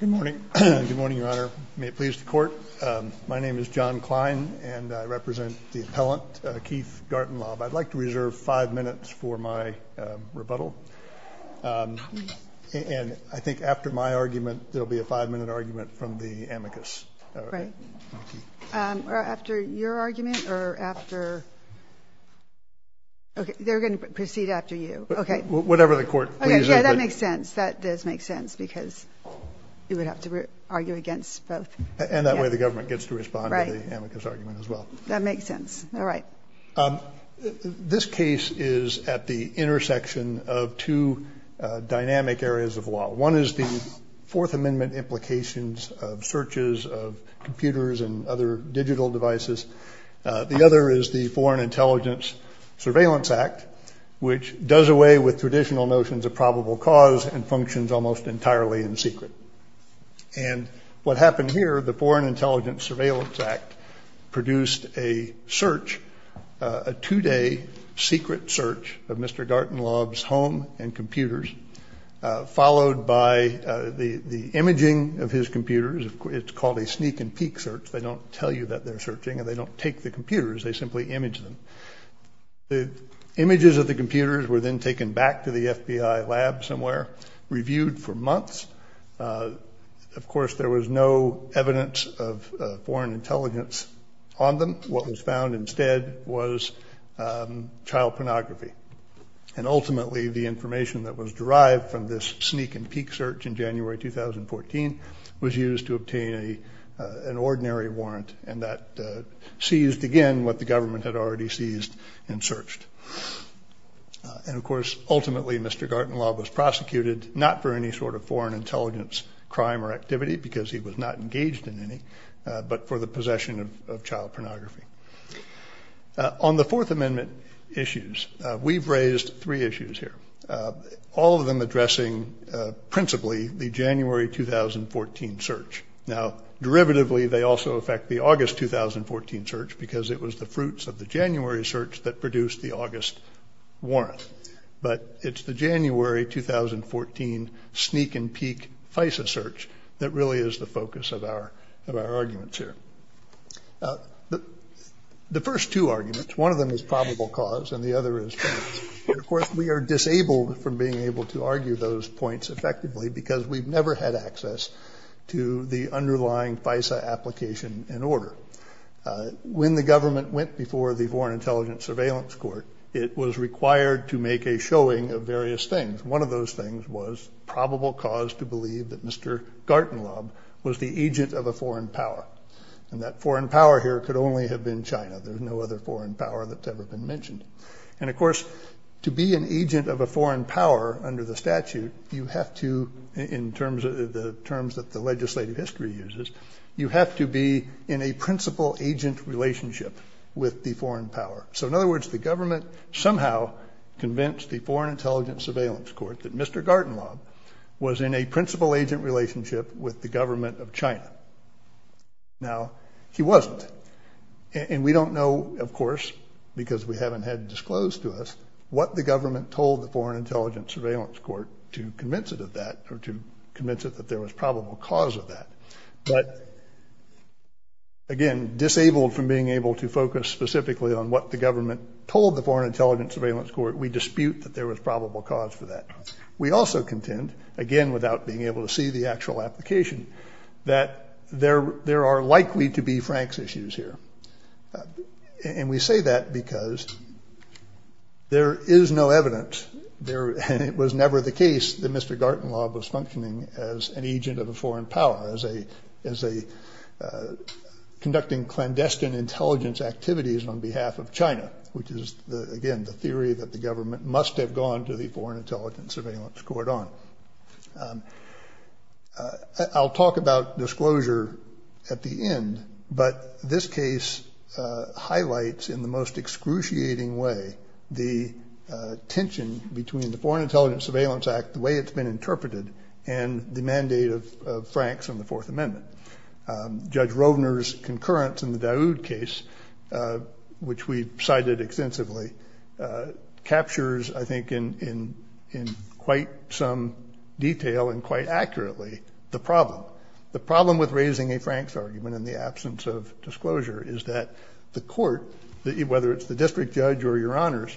Good morning. Good morning, Your Honor. May it please the court. My name is John Klein and I represent the appellant, Keith Gartenlaub. I'd like to reserve five minutes for my rebuttal. And I think after my argument, there will be a five-minute argument from the amicus. All right. Thank you. After your argument or after – okay, they're going to proceed after you. Okay. Whatever the court pleases. Yeah, that makes sense. That does make sense because you would have to argue against both. And that way the government gets to respond to the amicus argument as well. That makes sense. All right. This case is at the intersection of two dynamic areas of law. One is the Fourth Amendment implications of searches of computers and other digital devices. The other is the Foreign Intelligence Surveillance Act, which does away with traditional notions of probable cause and functions almost entirely in secret. And what happened here, the Foreign Intelligence Surveillance Act produced a search, a two-day secret search of Mr. Gartenlaub's home and computers, followed by the imaging of his computers. It's called a sneak and peek search. They don't tell you that they're searching and they don't take the computers. They simply image them. The images of the computers were then taken back to the FBI lab somewhere, reviewed for months. Of course, there was no evidence of foreign intelligence on them. What was found instead was child pornography. And ultimately the information that was derived from this sneak and peek search in January 2014 was used to obtain an ordinary warrant. And that seized again what the government had already seized and searched. And, of course, ultimately Mr. Gartenlaub was prosecuted not for any sort of foreign intelligence crime or activity, because he was not engaged in any, but for the possession of child pornography. On the Fourth Amendment issues, we've raised three issues here, all of them addressing principally the January 2014 search. Now, derivatively they also affect the August 2014 search, because it was the fruits of the January search that produced the August warrant. But it's the January 2014 sneak and peek FISA search that really is the focus of our arguments here. The first two arguments, one of them is probable cause and the other is fact. Of course, we are disabled from being able to argue those points effectively, because we've never had access to the underlying FISA application and order. When the government went before the Foreign Intelligence Surveillance Court, it was required to make a showing of various things. One of those things was probable cause to believe that Mr. Gartenlaub was the agent of a foreign power. And that foreign power here could only have been China. There's no other foreign power that's ever been mentioned. And, of course, to be an agent of a foreign power under the statute, you have to, in terms of the terms that the legislative history uses, you have to be in a principal agent relationship with the foreign power. So, in other words, the government somehow convinced the Foreign Intelligence Surveillance Court that Mr. Gartenlaub was in a principal agent relationship with the government of China. Now, he wasn't. And we don't know, of course, because we haven't had disclosed to us, what the government told the Foreign Intelligence Surveillance Court to convince it of that, or to convince it that there was probable cause of that. But, again, disabled from being able to focus specifically on what the government told the Foreign Intelligence Surveillance Court, we dispute that there was probable cause for that. We also contend, again, without being able to see the actual application, that there are likely to be Frank's issues here. And we say that because there is no evidence, and it was never the case that Mr. Gartenlaub was functioning as an agent of a foreign power, as conducting clandestine intelligence activities on behalf of China, which is, again, the theory that the government must have gone to the Foreign Intelligence Surveillance Court on. I'll talk about disclosure at the end. But this case highlights in the most excruciating way the tension between the Foreign Intelligence Surveillance Act, the way it's been interpreted, and the mandate of Frank's in the Fourth Amendment. Judge Rovner's concurrence in the Daoud case, which we cited extensively, captures, I think, in quite some detail and quite accurately, the problem. The problem with raising a Frank's argument in the absence of disclosure is that the court, whether it's the district judge or your honors,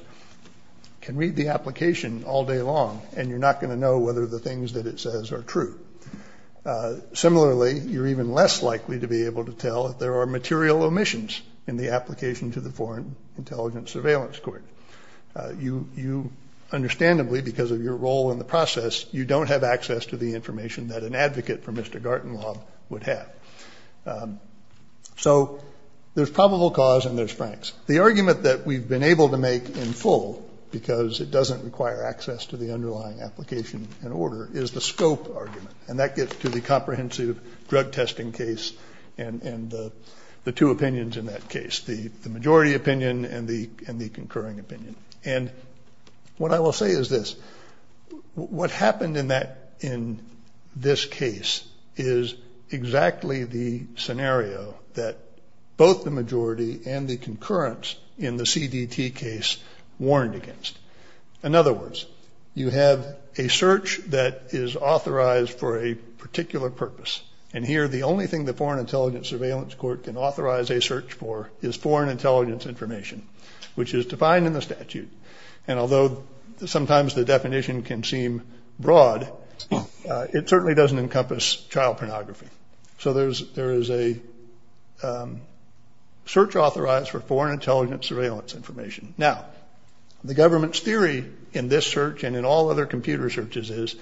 can read the application all day long, and you're not going to know whether the things that it says are true. Similarly, you're even less likely to be able to tell if there are material omissions in the application to the Foreign Intelligence Surveillance Court. You understandably, because of your role in the process, you don't have access to the information that an advocate for Mr. Gartenlaub would have. So there's probable cause and there's Frank's. The argument that we've been able to make in full, because it doesn't require access to the underlying application and order, is the scope argument, and that gets to the comprehensive drug testing case and the two opinions in that case, the majority opinion and the concurring opinion. And what I will say is this. What happened in this case is exactly the scenario that both the majority and the concurrence in the CDT case warned against. In other words, you have a search that is authorized for a particular purpose, and here the only thing the Foreign Intelligence Surveillance Court can authorize a search for is foreign intelligence information, which is defined in the statute. And although sometimes the definition can seem broad, it certainly doesn't encompass child pornography. So there is a search authorized for foreign intelligence surveillance information. Now, the government's theory in this search and in all other computer searches is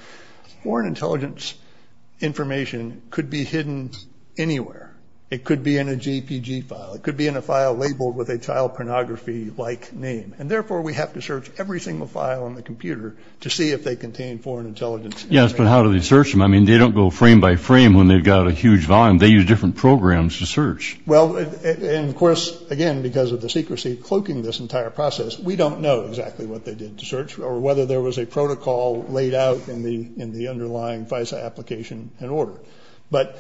foreign intelligence information could be hidden anywhere. It could be in a JPG file. It could be in a file labeled with a child pornography-like name. And therefore, we have to search every single file on the computer to see if they contain foreign intelligence information. Yes, but how do they search them? I mean, they don't go frame by frame when they've got a huge volume. They use different programs to search. Well, and of course, again, because of the secrecy cloaking this entire process, we don't know exactly what they did to search or whether there was a protocol laid out in the underlying FISA application and order. But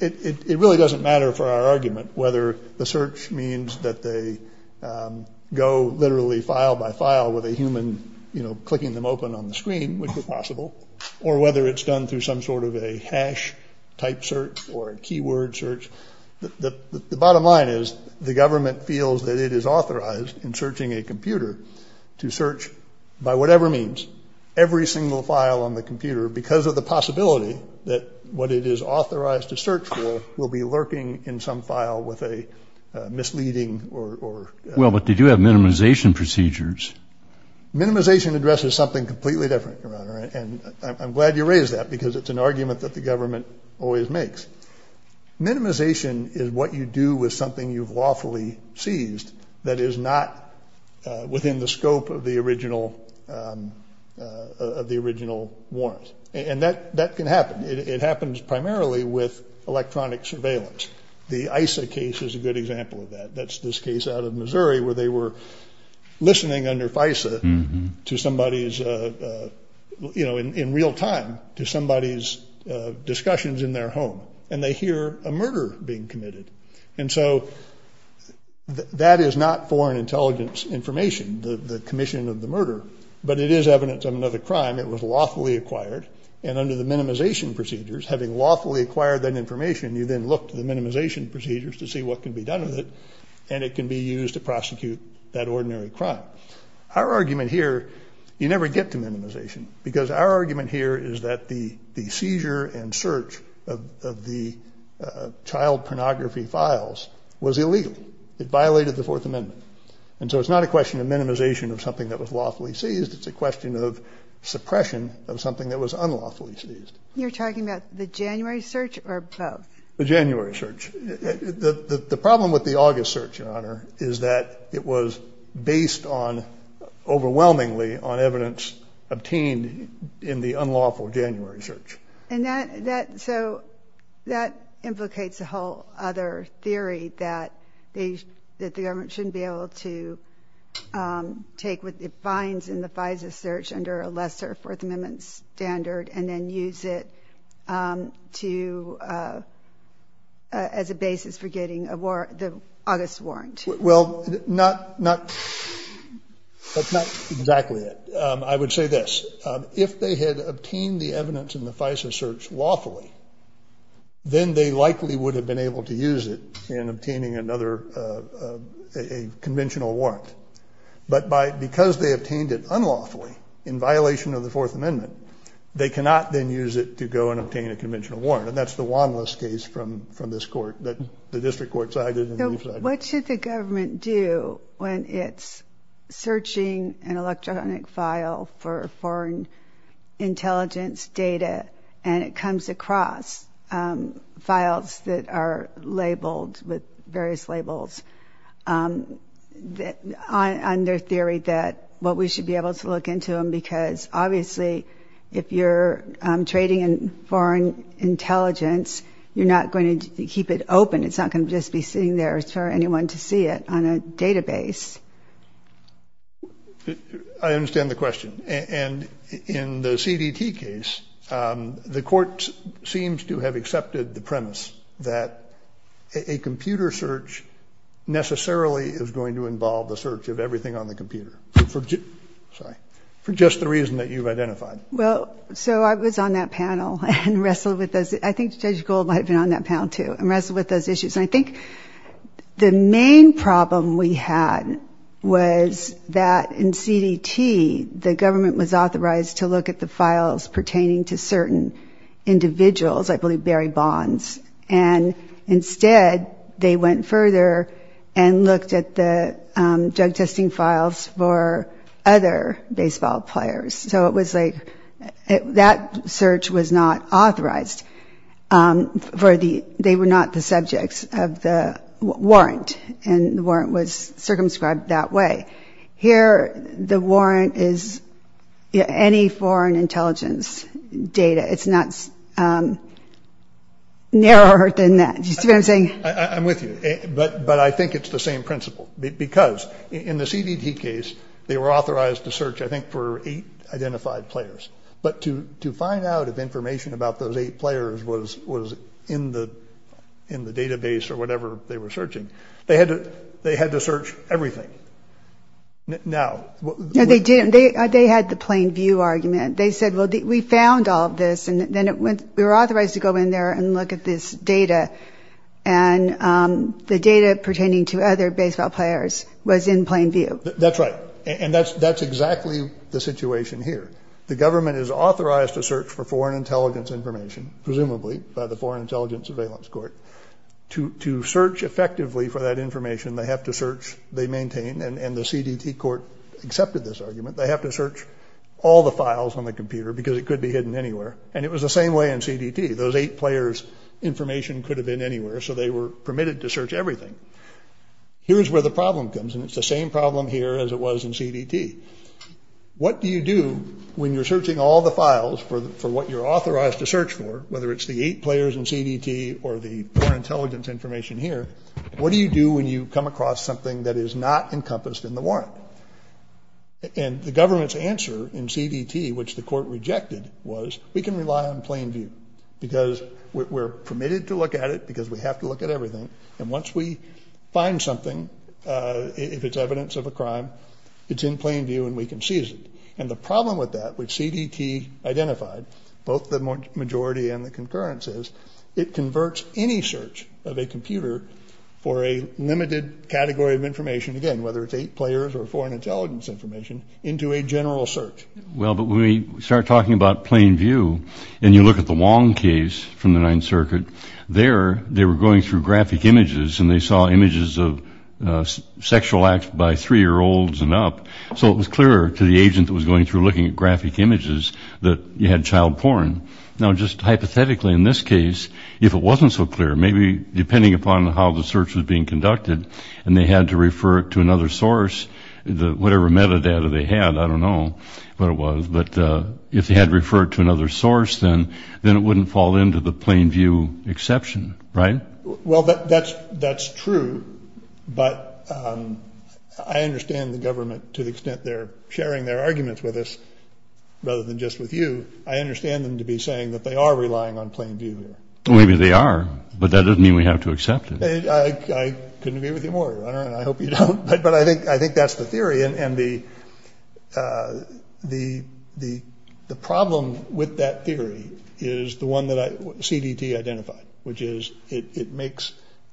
it really doesn't matter for our argument whether the search means that they go literally file by file with a human, you know, clicking them open on the screen, which is possible, or whether it's done through some sort of a hash-type search or a keyword search. The bottom line is the government feels that it is authorized in searching a computer to search, by whatever means, every single file on the computer because of the possibility that what it is authorized to search for will be lurking in some file with a misleading or- Well, but they do have minimization procedures. Minimization addresses something completely different, Your Honor, and I'm glad you raised that because it's an argument that the government always makes. Minimization is what you do with something you've lawfully seized that is not within the scope of the original warrant. And that can happen. It happens primarily with electronic surveillance. The ISA case is a good example of that. That's this case out of Missouri where they were listening under FISA to somebody's, you know, in real time to somebody's discussions in their home, and they hear a murder being committed. And so that is not foreign intelligence information, the commission of the murder, but it is evidence of another crime. It was lawfully acquired, and under the minimization procedures, having lawfully acquired that information, you then look to the minimization procedures to see what can be done with it, and it can be used to prosecute that ordinary crime. Our argument here, you never get to minimization because our argument here is that the seizure and search of the child pornography files was illegal. It violated the Fourth Amendment. And so it's not a question of minimization of something that was lawfully seized. It's a question of suppression of something that was unlawfully seized. You're talking about the January search or both? The January search. The problem with the August search, Your Honor, is that it was based on overwhelmingly on evidence obtained in the unlawful January search. And so that implicates a whole other theory that the government shouldn't be able to take what it finds in the FISA search under a lesser Fourth Amendment standard and then use it as a basis for getting the August warrant. Well, that's not exactly it. I would say this. If they had obtained the evidence in the FISA search lawfully, then they likely would have been able to use it in obtaining another conventional warrant. But because they obtained it unlawfully in violation of the Fourth Amendment, they cannot then use it to go and obtain a conventional warrant, and that's the wandless case from this court that the district court sided and the district court sided. What should the government do when it's searching an electronic file for foreign intelligence data and it comes across files that are labeled with various labels, on their theory that what we should be able to look into them, because obviously if you're trading in foreign intelligence, you're not going to keep it open. It's not going to just be sitting there for anyone to see it on a database. I understand the question. And in the CDT case, the court seems to have accepted the premise that a computer search necessarily is going to involve the search of everything on the computer for just the reason that you've identified. Well, so I was on that panel and wrestled with those. I think Judge Gold might have been on that panel, too, and wrestled with those issues. And I think the main problem we had was that in CDT, the government was authorized to look at the files pertaining to certain individuals, I believe Barry Bonds, and instead they went further and looked at the drug testing files for other baseball players. So it was like that search was not authorized. They were not the subjects of the warrant, and the warrant was circumscribed that way. Here the warrant is any foreign intelligence data. It's not narrower than that. Do you see what I'm saying? I'm with you. But I think it's the same principle. Because in the CDT case, they were authorized to search, I think, for eight identified players. But to find out if information about those eight players was in the database or whatever they were searching, they had to search everything. No, they didn't. They had the plain view argument. They said, well, we found all of this, and then we were authorized to go in there and look at this data, and the data pertaining to other baseball players was in plain view. That's right. And that's exactly the situation here. The government is authorized to search for foreign intelligence information, presumably by the Foreign Intelligence Surveillance Court. To search effectively for that information, they have to search. They maintain, and the CDT court accepted this argument, they have to search all the files on the computer because it could be hidden anywhere. And it was the same way in CDT. Those eight players' information could have been anywhere, so they were permitted to search everything. Here's where the problem comes, and it's the same problem here as it was in CDT. What do you do when you're searching all the files for what you're authorized to search for, whether it's the eight players in CDT or the foreign intelligence information here, what do you do when you come across something that is not encompassed in the warrant? And the government's answer in CDT, which the court rejected, was we can rely on plain view because we're permitted to look at it because we have to look at everything, and once we find something, if it's evidence of a crime, it's in plain view and we can seize it. And the problem with that, which CDT identified, both the majority and the concurrence is, it converts any search of a computer for a limited category of information, again, whether it's eight players or foreign intelligence information, into a general search. Well, but when we start talking about plain view and you look at the Wong case from the Ninth Circuit, there they were going through graphic images and they saw images of sexual acts by three-year-olds and up, so it was clearer to the agent that was going through looking at graphic images that you had child porn. Now, just hypothetically in this case, if it wasn't so clear, maybe depending upon how the search was being conducted and they had to refer it to another source, whatever metadata they had, I don't know what it was, but if they had referred to another source, then it wouldn't fall into the plain view exception, right? Well, that's true, but I understand the government to the extent they're sharing their arguments with us rather than just with you. I understand them to be saying that they are relying on plain view here. Maybe they are, but that doesn't mean we have to accept it. I couldn't agree with you more, Your Honor, and I hope you don't, but I think that's the theory, and the problem with that theory is the one that CDT identified, which is it makes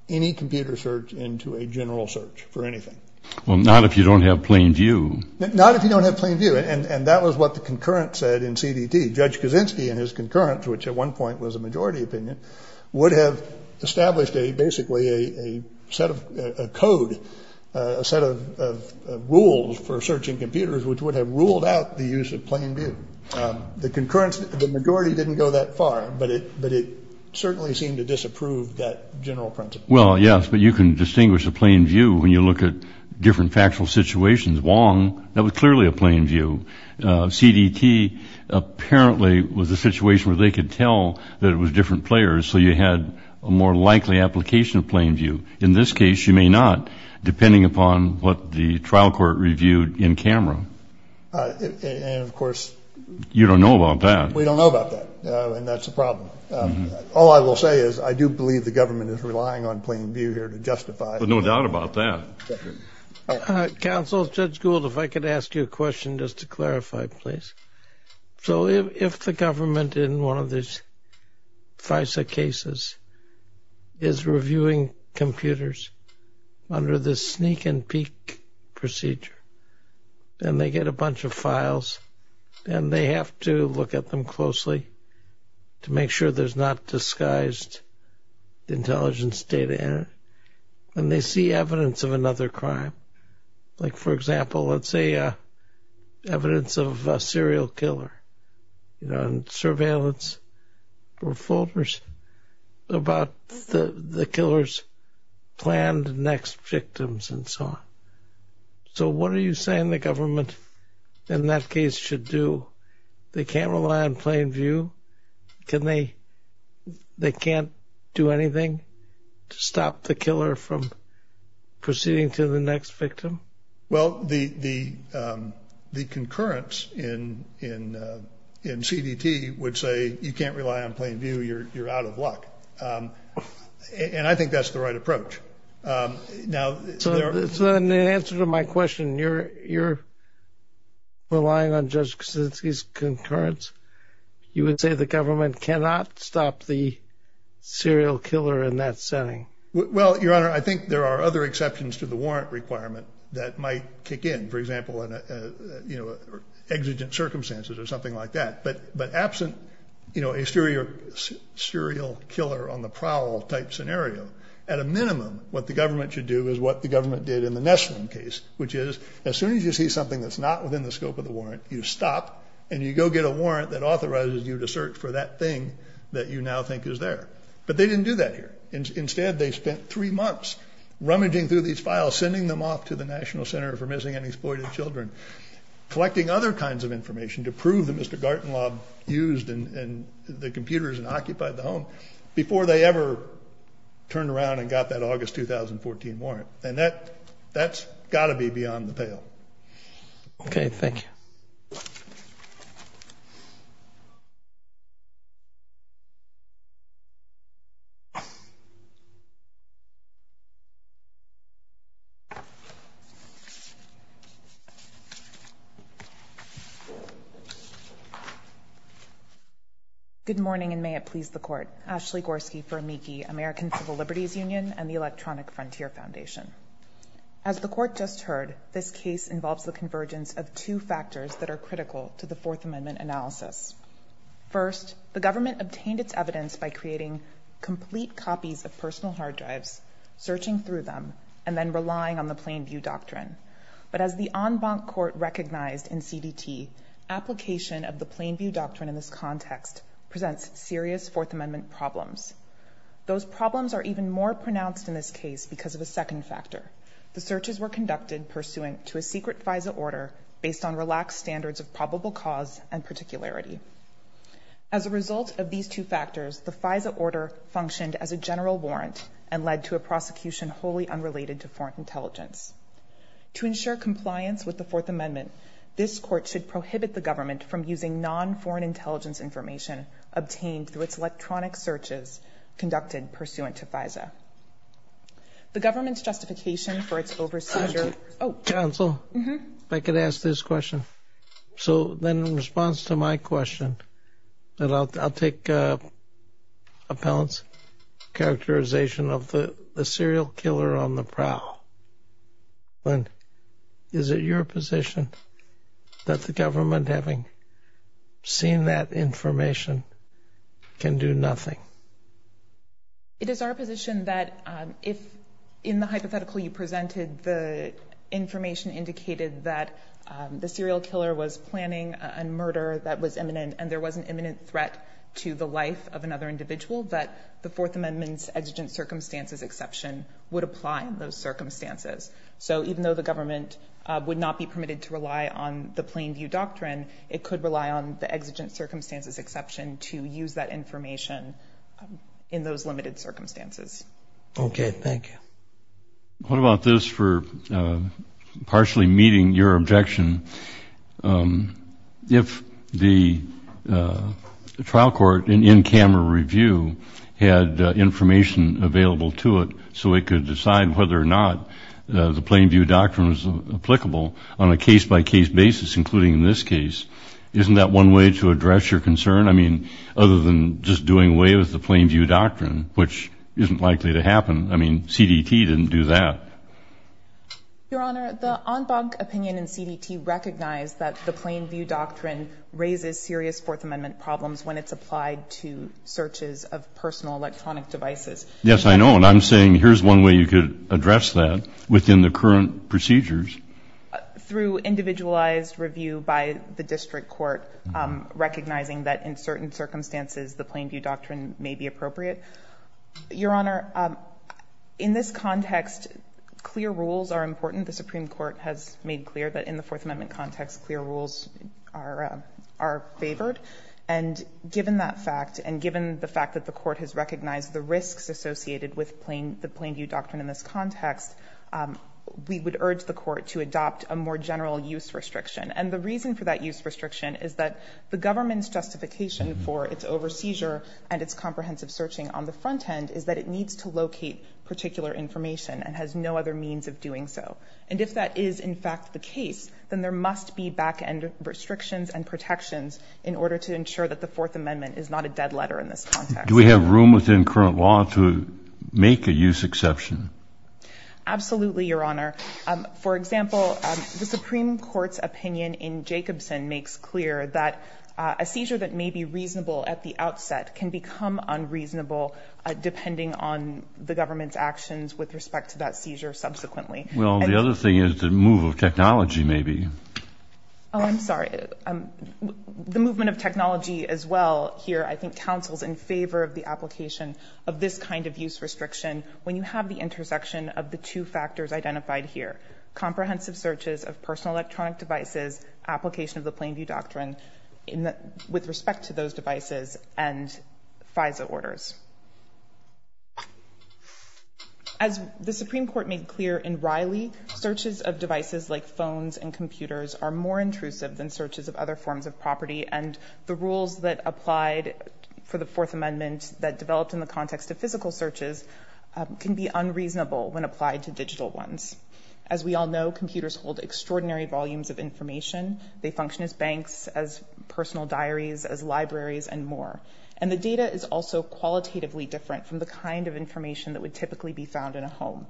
any computer search into a general search for anything. Well, not if you don't have plain view. Not if you don't have plain view, and that was what the concurrent said in CDT. Judge Kaczynski and his concurrence, which at one point was a majority opinion, would have established basically a set of code, a set of rules for searching computers, which would have ruled out the use of plain view. The concurrence, the majority didn't go that far, but it certainly seemed to disapprove that general principle. Well, yes, but you can distinguish a plain view when you look at different factual situations. Wong, that was clearly a plain view. CDT apparently was a situation where they could tell that it was different players, so you had a more likely application of plain view. In this case, you may not, depending upon what the trial court reviewed in camera. And, of course, you don't know about that. We don't know about that, and that's a problem. All I will say is I do believe the government is relying on plain view here to justify it. But no doubt about that. Counsel, Judge Gould, if I could ask you a question just to clarify, please. So if the government in one of these FISA cases is reviewing computers under this sneak and peek procedure, and they get a bunch of files, and they have to look at them closely to make sure there's not disguised intelligence data in it, and they see evidence of another crime, like, for example, let's say evidence of a serial killer and surveillance or folders about the killer's planned next victims and so on. So what are you saying the government in that case should do? They can't rely on plain view? They can't do anything to stop the killer from proceeding to the next victim? Well, the concurrence in CDT would say you can't rely on plain view, you're out of luck. And I think that's the right approach. So in answer to my question, you're relying on Judge Kuczynski's concurrence? You would say the government cannot stop the serial killer in that setting? Well, Your Honor, I think there are other exceptions to the warrant requirement that might kick in, for example, in exigent circumstances or something like that. But absent a serial killer on the prowl type scenario, at a minimum what the government should do is what the government did in the Neslin case, which is as soon as you see something that's not within the scope of the warrant, you stop and you go get a warrant that authorizes you to search for that thing that you now think is there. But they didn't do that here. Instead, they spent three months rummaging through these files, sending them off to the National Center for Missing and Exploited Children, collecting other kinds of information to prove that Mr. Gartenlaub used the computers and occupied the home before they ever turned around and got that August 2014 warrant. And that's got to be beyond the pale. Okay. Thank you. Good morning, and may it please the Court. Ashley Gorski for AMICI, American Civil Liberties Union and the Electronic Frontier Foundation. As the Court just heard, this case involves the convergence of two factors that are critical to the Fourth Amendment analysis. First, the government obtained its evidence by creating complete copies of personal hard drives, searching through them, and then relying on the plain view doctrine. But as the en banc court recognized in CDT, application of the plain view doctrine in this context presents serious Fourth Amendment problems. Those problems are even more pronounced in this case because of a second factor. The searches were conducted pursuant to a secret FISA order based on relaxed standards of probable cause and particularity. As a result of these two factors, the FISA order functioned as a general warrant and led to a prosecution wholly unrelated to foreign intelligence. To ensure compliance with the Fourth Amendment, this Court should prohibit the government from using non-foreign intelligence information obtained through its electronic searches conducted pursuant to FISA. The government's justification for its over- Counsel, if I could ask this question. So then in response to my question, I'll take Appellant's characterization of the serial killer on the prowl. Is it your position that the government, having seen that information, can do nothing? It is our position that if, in the hypothetical you presented, the information indicated that the serial killer was planning a murder that was imminent and there was an imminent threat to the life of another individual, that the Fourth Amendment's exigent circumstances exception would apply in those circumstances. So even though the government would not be permitted to rely on the plain view doctrine, it could rely on the exigent circumstances exception to use that information in those limited circumstances. Okay, thank you. What about this for partially meeting your objection? If the trial court in in-camera review had information available to it so it could decide whether or not the plain view doctrine was applicable on a case-by-case basis, including in this case, isn't that one way to address your concern? I mean, other than just doing away with the plain view doctrine, which isn't likely to happen. I mean, CDT didn't do that. Your Honor, the en banc opinion in CDT recognized that the plain view doctrine raises serious Fourth Amendment problems when it's applied to searches of personal electronic devices. Yes, I know. And I'm saying here's one way you could address that within the current procedures. Through individualized review by the district court, recognizing that in certain circumstances the plain view doctrine may be appropriate. Your Honor, in this context, clear rules are important. The Supreme Court has made clear that in the Fourth Amendment context, clear rules are favored. And given that fact and given the fact that the Court has recognized the risks associated with the plain view doctrine in this context, we would urge the Court to adopt a more general use restriction. And the reason for that use restriction is that the government's justification for its over-seizure and its comprehensive searching on the front end is that it needs to locate particular information and has no other means of doing so. And if that is, in fact, the case, then there must be back-end restrictions and protections in order to ensure that the Fourth Amendment is not a dead letter in this context. Do we have room within current law to make a use exception? Absolutely, Your Honor. For example, the Supreme Court's opinion in Jacobson makes clear that a seizure that may be reasonable at the outset can become unreasonable depending on the government's actions with respect to that seizure subsequently. Well, the other thing is the move of technology, maybe. Oh, I'm sorry. The movement of technology as well here, I think, counsels in favor of the application of this kind of use restriction when you have the intersection of the two factors identified here, comprehensive searches of personal electronic devices, application of the Plain View Doctrine with respect to those devices, and FISA orders. As the Supreme Court made clear in Riley, searches of devices like phones and computers are more intrusive than searches of other forms of property, and the rules that applied for the Fourth Amendment that developed in the context of physical searches can be unreasonable when applied to digital ones. As we all know, computers hold extraordinary volumes of information. They function as banks, as personal diaries, as libraries, and more. And the data is also qualitatively different from the kind of information that would typically be found in a home.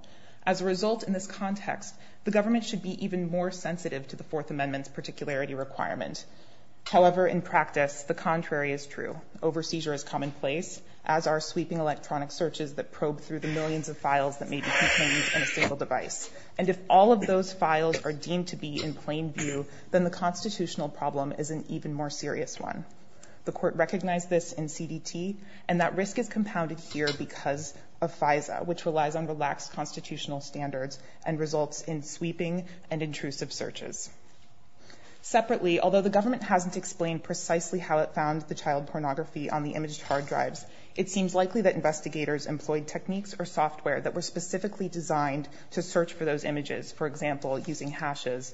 As a result, in this context, the government should be even more sensitive to the Fourth Amendment's particularity requirement. However, in practice, the contrary is true. Overseizure is commonplace, as are sweeping electronic searches that probe through the millions of files that may be contained in a single device. And if all of those files are deemed to be in plain view, then the constitutional problem is an even more serious one. The Court recognized this in CDT, and that risk is compounded here because of FISA, which relies on relaxed constitutional standards and results in sweeping and intrusive searches. Separately, although the government hasn't explained precisely how it found the child pornography on the imaged hard drives, it seems likely that investigators employed techniques or software that were specifically designed to search for those images, for example, using hashes.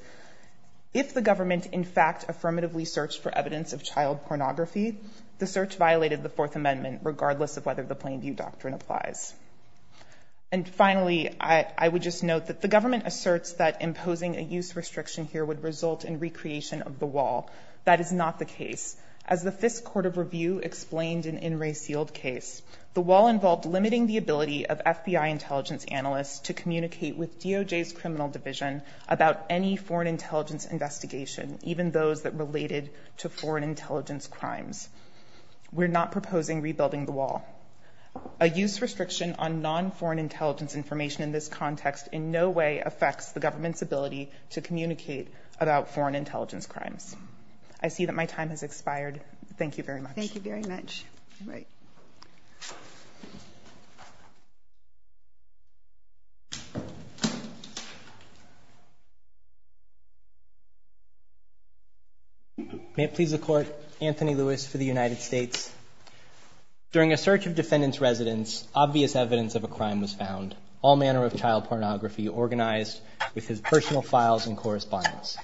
If the government, in fact, affirmatively searched for evidence of child pornography, the search violated the Fourth Amendment, regardless of whether the plain view doctrine applies. And finally, I would just note that the government asserts that imposing a use restriction here would result in recreation of the wall. That is not the case. As the Fifth Court of Review explained in In Re Sealed Case, the wall involved limiting the ability of FBI intelligence analysts to communicate with DOJ's criminal division about any foreign intelligence investigation, even those that related to foreign intelligence crimes. We're not proposing rebuilding the wall. A use restriction on non-foreign intelligence information in this context in no way affects the government's ability to communicate about foreign intelligence crimes. I see that my time has expired. Thank you very much. Thank you very much. May it please the Court, Anthony Lewis for the United States. During a search of defendant's residence, obvious evidence of a crime was found, all manner of child pornography organized with his personal files and correspondence.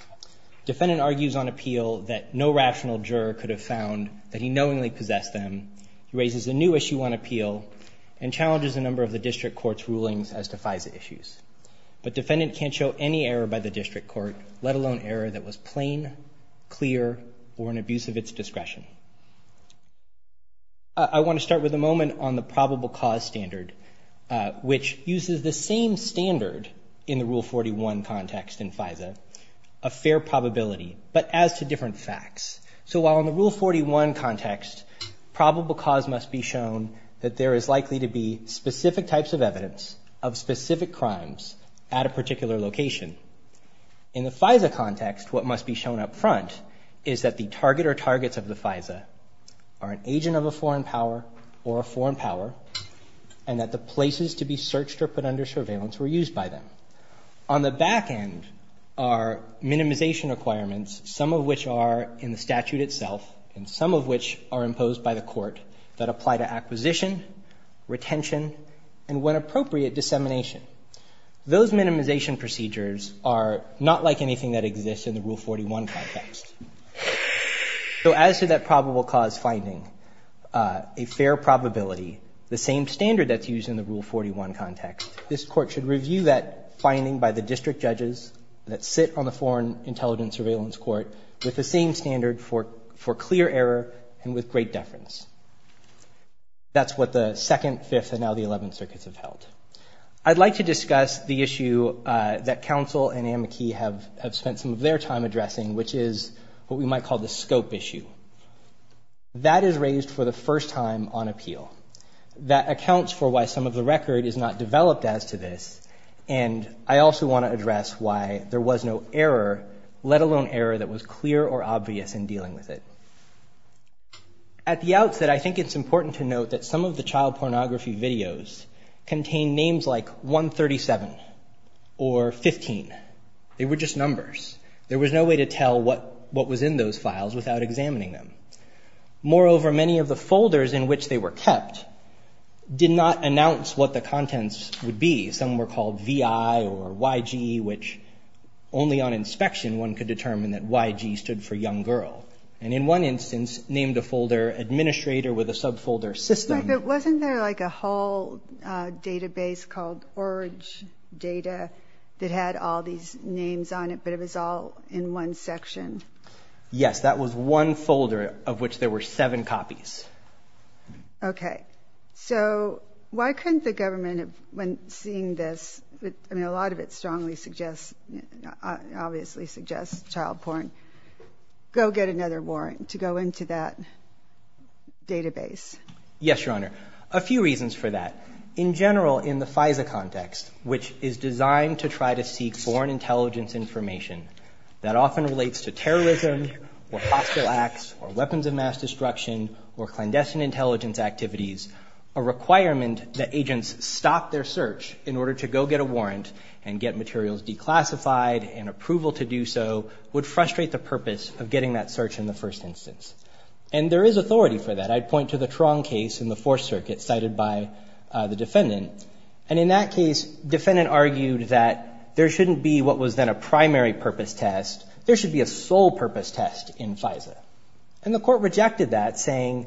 Defendant argues on appeal that no rational juror could have found that he knowingly possessed them. He raises a new Issue 1 appeal and challenges a number of the district court's rulings as to FISA issues. But defendant can't show any error by the district court, let alone error that was plain, clear, or an abuse of its discretion. I want to start with a moment on the probable cause standard, which uses the same standard in the Rule 41 context in FISA, a fair probability, but as to different facts. So while in the Rule 41 context, probable cause must be shown that there is likely to be specific types of evidence of specific crimes at a particular location, in the FISA context, what must be shown up front is that the target or targets of the FISA are an agent of a foreign power or a foreign power and that the places to be searched or put under surveillance were used by them. On the back end are minimization requirements, some of which are in the statute itself and some of which are imposed by the court that apply to acquisition, retention, and when appropriate, dissemination. Those minimization procedures are not like anything that exists in the Rule 41 context. So as to that probable cause finding, a fair probability, the same standard that's used in the Rule 41 context, this court should review that finding by the district judges that sit on the Foreign Intelligence Surveillance Court with the same standard for clear error and with great deference. That's what the Second, Fifth, and now the Eleventh Circuits have held. I'd like to discuss the issue that counsel and Anne McKee have spent some of their time addressing, which is what we might call the scope issue. That is raised for the first time on appeal. That accounts for why some of the record is not developed as to this, and I also want to address why there was no error, let alone error that was clear or obvious in dealing with it. At the outset, I think it's important to note that some of the child pornography videos contain names like 137 or 15. They were just numbers. There was no way to tell what was in those files without examining them. Moreover, many of the folders in which they were kept did not announce what the contents would be. Some were called VI or YG, which only on inspection one could determine that YG stood for young girl, and in one instance named a folder administrator with a subfolder system. But wasn't there like a whole database called ORJ data that had all these names on it, but it was all in one section? Yes. That was one folder of which there were seven copies. Okay. So why couldn't the government, when seeing this, I mean a lot of it strongly suggests, obviously suggests child porn, go get another warrant to go into that database? Yes, Your Honor. A few reasons for that. In general, in the FISA context, which is designed to try to seek foreign intelligence information that often relates to terrorism or hostile acts or weapons of mass destruction or clandestine intelligence activities, a requirement that agents stop their search in order to go get a warrant and get materials declassified and approval to do so would frustrate the purpose of getting that search in the first instance. And there is authority for that. I'd point to the Tron case in the Fourth Circuit cited by the defendant. And in that case, the defendant argued that there shouldn't be what was then a primary purpose test. There should be a sole purpose test in FISA. And the court rejected that, saying,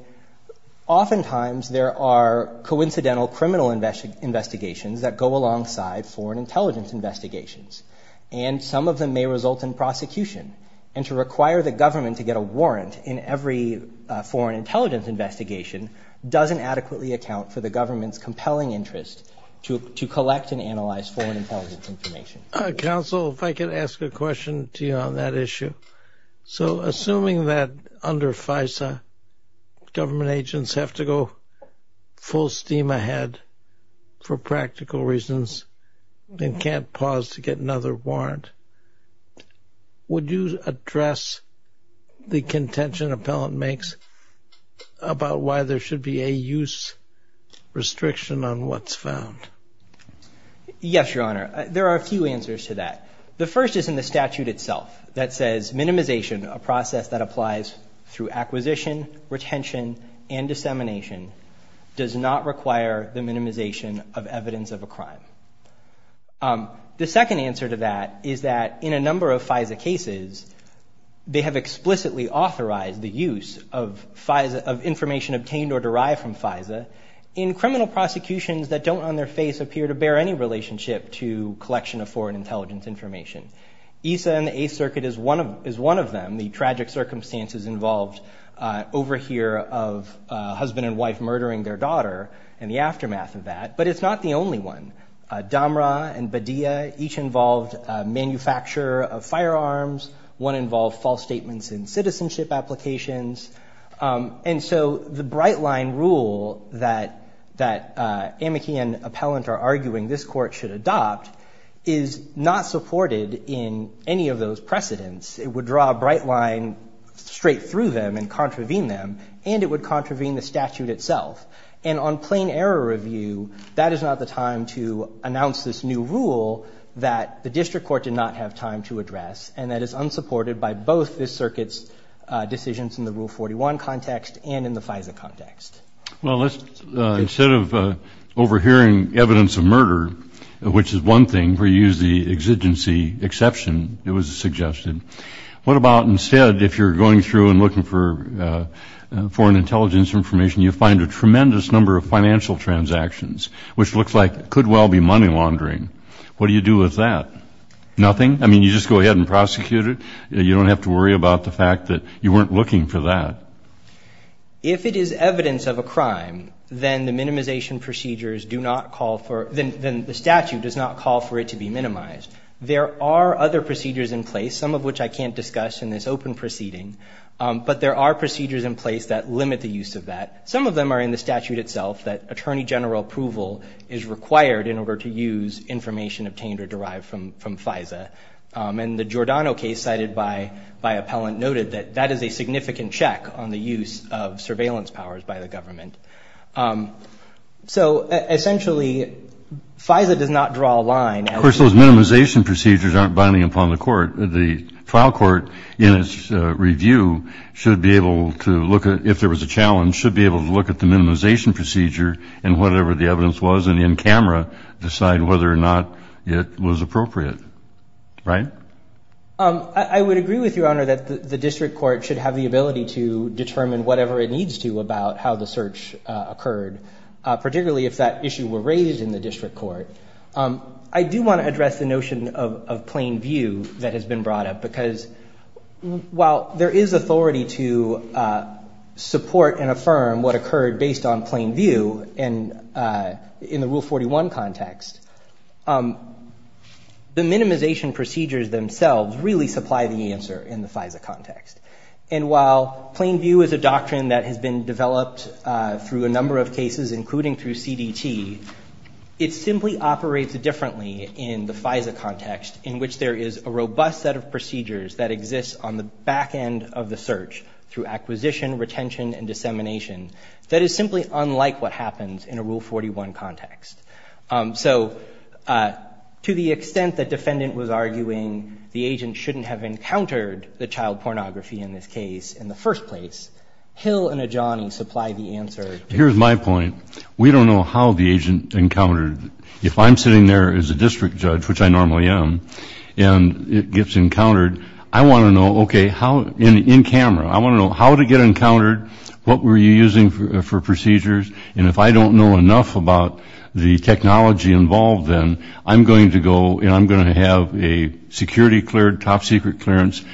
oftentimes there are coincidental criminal investigations that go alongside foreign intelligence investigations, and some of them may result in prosecution. And to require the government to get a warrant in every foreign intelligence investigation doesn't adequately account for the government's compelling interest to collect and analyze foreign intelligence information. Counsel, if I could ask a question to you on that issue. So assuming that under FISA, government agents have to go full steam ahead for practical reasons and can't pause to get another warrant, would you address the contention an appellant makes about why there should be a use restriction on what's found? Yes, Your Honor. There are a few answers to that. The first is in the statute itself that says minimization, a process that applies through acquisition, retention, and dissemination, does not require the minimization of evidence of a crime. The second answer to that is that in a number of FISA cases, they have explicitly authorized the use of information obtained or derived from FISA in criminal prosecutions that don't on their face appear to bear any relationship to collection of foreign intelligence information. EISA and the Eighth Circuit is one of them. The tragic circumstances involved over here of a husband and wife murdering their daughter and the aftermath of that, but it's not the only one. Damra and Badia each involved manufacture of firearms. One involved false statements in citizenship applications. And so the bright line rule that Amici and appellant are arguing this court should adopt is not supported in any of those precedents. It would draw a bright line straight through them and contravene them, and it would contravene the statute itself. And on plain error review, that is not the time to announce this new rule that the district court did not have time to address and that is unsupported by both this circuit's decisions in the Rule 41 context and in the FISA context. Well, instead of overhearing evidence of murder, which is one thing where you use the exigency exception that was suggested, what about instead if you're going through and looking for foreign intelligence information, you find a tremendous number of financial transactions, which looks like it could well be money laundering. What do you do with that? Nothing? I mean, you just go ahead and prosecute it. You don't have to worry about the fact that you weren't looking for that. If it is evidence of a crime, then the minimization procedures do not call for it. Then the statute does not call for it to be minimized. There are other procedures in place, some of which I can't discuss in this open proceeding, but there are procedures in place that limit the use of that. Some of them are in the statute itself that attorney general approval is required in order to use information obtained or derived from FISA. And the Giordano case cited by appellant noted that that is a significant check on the use of surveillance powers by the government. So essentially FISA does not draw a line. Of course, those minimization procedures aren't binding upon the court. The trial court in its review should be able to look at, if there was a challenge, should be able to look at the minimization procedure and whatever the evidence was and in camera decide whether or not it was appropriate. Right? I would agree with you, Your Honor, that the district court should have the ability to determine whatever it needs to about how the search occurred, particularly if that issue were raised in the district court. I do want to address the notion of plain view that has been brought up because while there is authority to support and affirm what occurred based on plain view and in the Rule 41 context, the minimization procedures themselves really supply the answer in the FISA context. And while plain view is a doctrine that has been developed through a number of cases, including through CDT, it simply operates differently in the FISA context in which there is a robust set of procedures that exists on the back end of the search through acquisition, retention, and dissemination that is simply unlike what happens in a Rule 41 context. So to the extent that defendant was arguing the agent shouldn't have encountered the child pornography in this case in the first place, Hill and Adjani supply the answer. Here's my point. We don't know how the agent encountered it. If I'm sitting there as a district judge, which I normally am, and it gets encountered, I want to know, okay, in camera, I want to know how did it get encountered, what were you using for procedures, and if I don't know enough about the technology involved, then I'm going to go and I'm going to have a security cleared, top secret clearance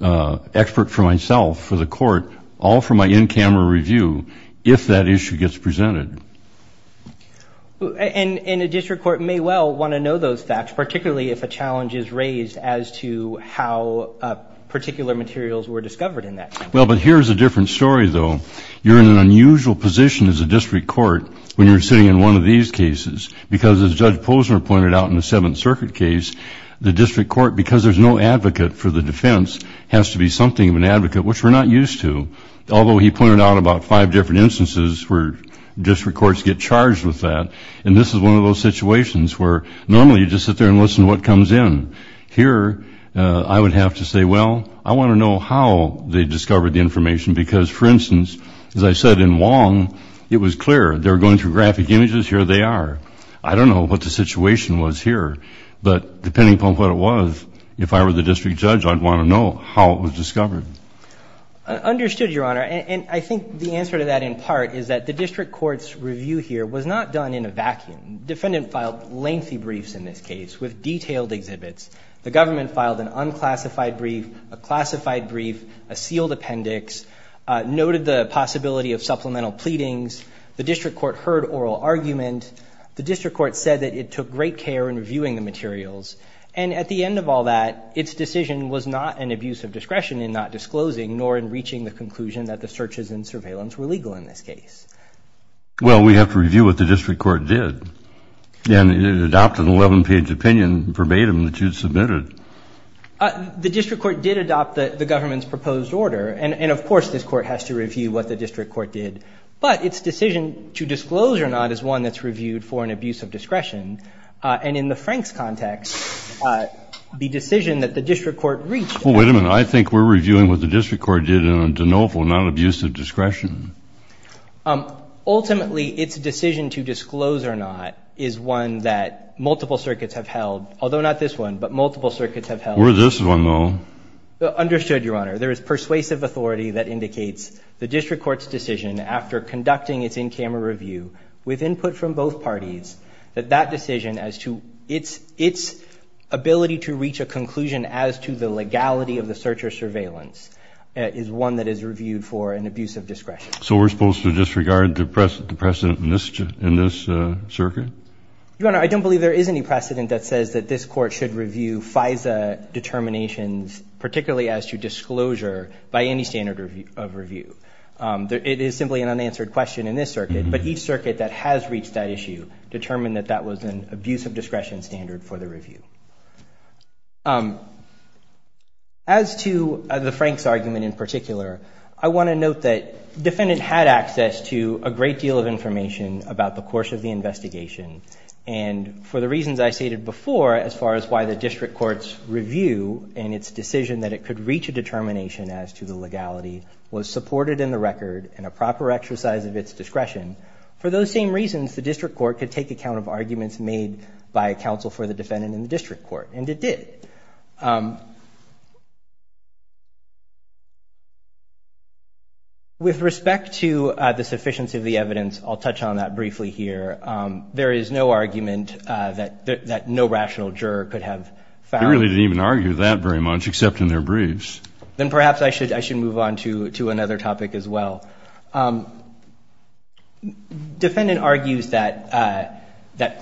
expert for myself, for the court, all for my in-camera review if that issue gets presented. And a district court may well want to know those facts, particularly if a challenge is raised as to how particular materials were discovered in that. Well, but here's a different story, though. You're in an unusual position as a district court when you're sitting in one of these cases because, as Judge Posner pointed out in the Seventh Circuit case, the district court, because there's no advocate for the defense, has to be something of an advocate, which we're not used to, although he pointed out about five different instances where district courts get charged with that. And this is one of those situations where normally you just sit there and listen to what comes in. Here I would have to say, well, I want to know how they discovered the information, because, for instance, as I said in Wong, it was clear. They were going through graphic images. Here they are. I don't know what the situation was here, but depending upon what it was, if I were the district judge, I'd want to know how it was discovered. Understood, Your Honor. And I think the answer to that in part is that the district court's review here was not done in a vacuum. The defendant filed lengthy briefs in this case with detailed exhibits. The government filed an unclassified brief, a classified brief, a sealed appendix, noted the possibility of supplemental pleadings. The district court heard oral argument. The district court said that it took great care in reviewing the materials. And at the end of all that, its decision was not an abuse of discretion in not disclosing nor in reaching the conclusion that the searches and surveillance were legal in this case. Well, we have to review what the district court did. And it adopted an 11-page opinion verbatim that you submitted. The district court did adopt the government's proposed order. And, of course, this court has to review what the district court did. But its decision to disclose or not is one that's reviewed for an abuse of discretion. And in the Franks context, the decision that the district court reached at the time Well, wait a minute. I think we're reviewing what the district court did in a de novo, not an abuse of discretion. Ultimately, its decision to disclose or not is one that multiple circuits have held, although not this one, but multiple circuits have held. Or this one, though. Understood, Your Honor. There is persuasive authority that indicates the district court's decision, after conducting its in-camera review with input from both parties, that that decision as to its ability to reach a conclusion as to the legality of the search or surveillance is one that is reviewed for an abuse of discretion. So we're supposed to disregard the precedent in this circuit? Your Honor, I don't believe there is any precedent that says that this court should review FISA determinations, particularly as to disclosure, by any standard of review. It is simply an unanswered question in this circuit, but each circuit that has reached that issue determined that that was an abuse of discretion standard for the review. As to the Franks argument in particular, I want to note that the defendant had access to a great deal of information about the course of the investigation. And for the reasons I stated before, as far as why the district court's review and its decision that it could reach a determination as to the legality was supported in the record in a proper exercise of its discretion, for those same reasons the district court could take account of arguments made by counsel for the defendant in the district court. And it did. With respect to the sufficiency of the evidence, I'll touch on that briefly here. There is no argument that no rational juror could have found. They really didn't even argue that very much, except in their briefs. Then perhaps I should move on to another topic as well. Defendant argues that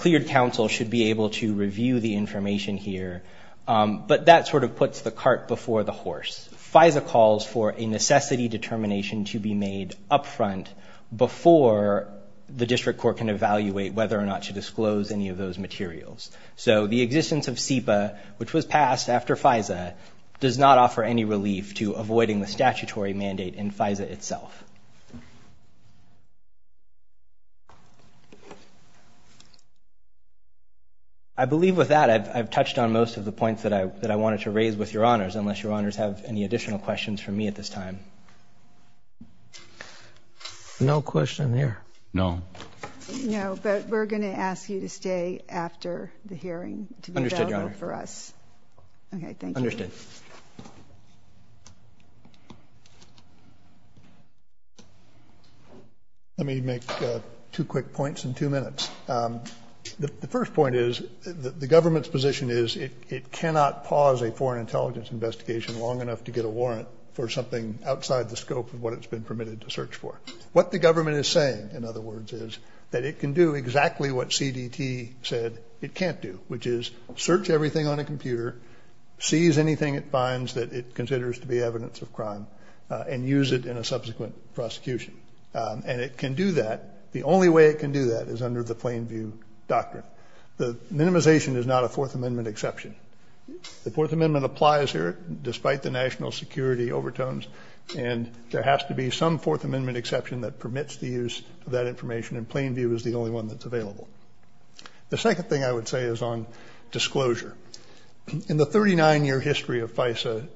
cleared counsel should be able to review the information here, but that sort of puts the cart before the horse. FISA calls for a necessity determination to be made up front before the district court can evaluate whether or not to disclose any of those materials. So the existence of SEPA, which was passed after FISA, does not offer any relief to avoiding the statutory mandate in FISA itself. I believe with that I've touched on most of the points that I wanted to raise with your honors, unless your honors have any additional questions for me at this time. No question here. No. No, but we're going to ask you to stay after the hearing to be available for us. Understood, your honor. Okay, thank you. Understood. Let me make two quick points in two minutes. The first point is the government's position is it cannot pause a foreign intelligence investigation long enough to get a warrant for something outside the scope of what it's been permitted to search for. What the government is saying, in other words, is that it can do exactly what CDT said it can't do, which is search everything on a computer, seize anything it finds that it considers to be evidence of crime, and use it in a subsequent prosecution. And it can do that. The only way it can do that is under the plain view doctrine. The minimization is not a Fourth Amendment exception. The Fourth Amendment applies here, despite the national security overtones, and there has to be some Fourth Amendment exception that permits the use of that information, and plain view is the only one that's available. The second thing I would say is on disclosure. In the 39-year history of FISA,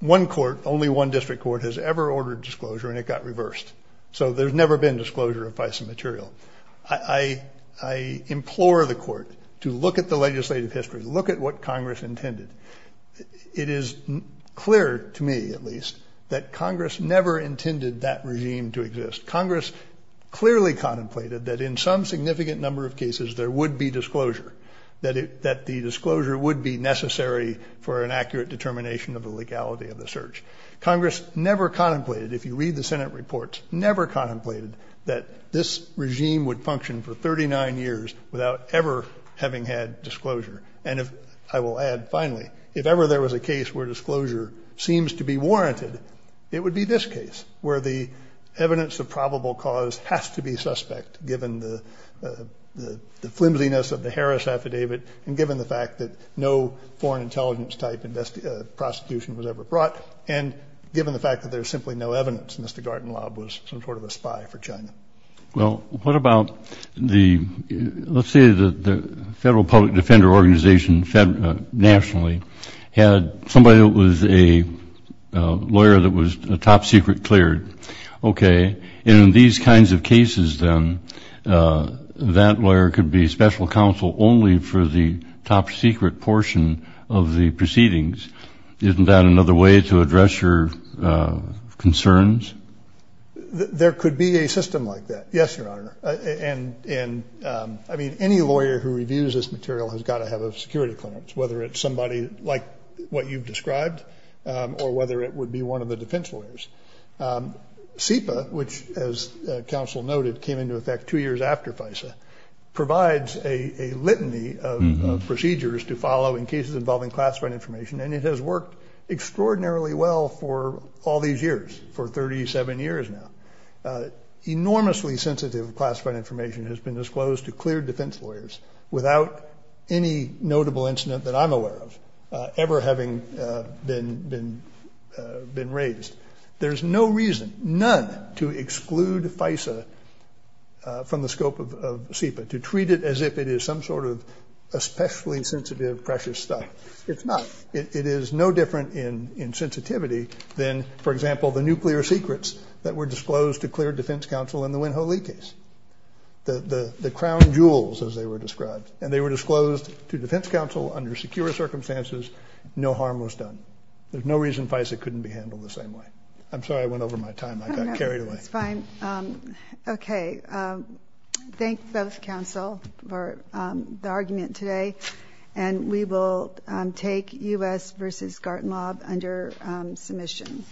one court, only one district court, has ever ordered disclosure, and it got reversed. So there's never been disclosure of FISA material. I implore the court to look at the legislative history. Look at what Congress intended. It is clear to me, at least, that Congress never intended that regime to exist. Congress clearly contemplated that in some significant number of cases there would be disclosure, that the disclosure would be necessary for an accurate determination of the legality of the search. Congress never contemplated, if you read the Senate reports, never contemplated that this regime would function for 39 years without ever having had disclosure. And I will add, finally, if ever there was a case where disclosure seems to be warranted, it would be this case, where the evidence of probable cause has to be suspect, given the flimsiness of the Harris affidavit, and given the fact that no foreign intelligence-type prosecution was ever brought, and given the fact that there's simply no evidence Mr. Gartenlaub was some sort of a spy for China. Well, what about the, let's say the Federal Public Defender Organization nationally had somebody that was a lawyer that was top secret cleared. Okay. And in these kinds of cases, then, that lawyer could be special counsel only for the top secret portion of the proceedings. Isn't that another way to address your concerns? There could be a system like that. Yes, Your Honor. And, I mean, any lawyer who reviews this material has got to have a security clearance, whether it's somebody like what you've described or whether it would be one of the defense lawyers. CEPA, which, as counsel noted, came into effect two years after FISA, provides a litany of procedures to follow in cases involving classified information, and it has worked extraordinarily well for all these years, for 37 years now. Enormously sensitive classified information has been disclosed to cleared defense lawyers without any notable incident that I'm aware of ever having been raised. There's no reason, none, to exclude FISA from the scope of CEPA, to treat it as if it is some sort of especially sensitive, precious stuff. It's not. It is no different in sensitivity than, for example, the nuclear secrets that were disclosed to cleared defense counsel in the Winho Lee case. The crown jewels, as they were described, and they were disclosed to defense counsel under secure circumstances, no harm was done. There's no reason FISA couldn't be handled the same way. I'm sorry I went over my time. I got carried away. It's fine. Okay. Thank both counsel for the argument today, and we will take U.S. v. Gartenlaub under submission.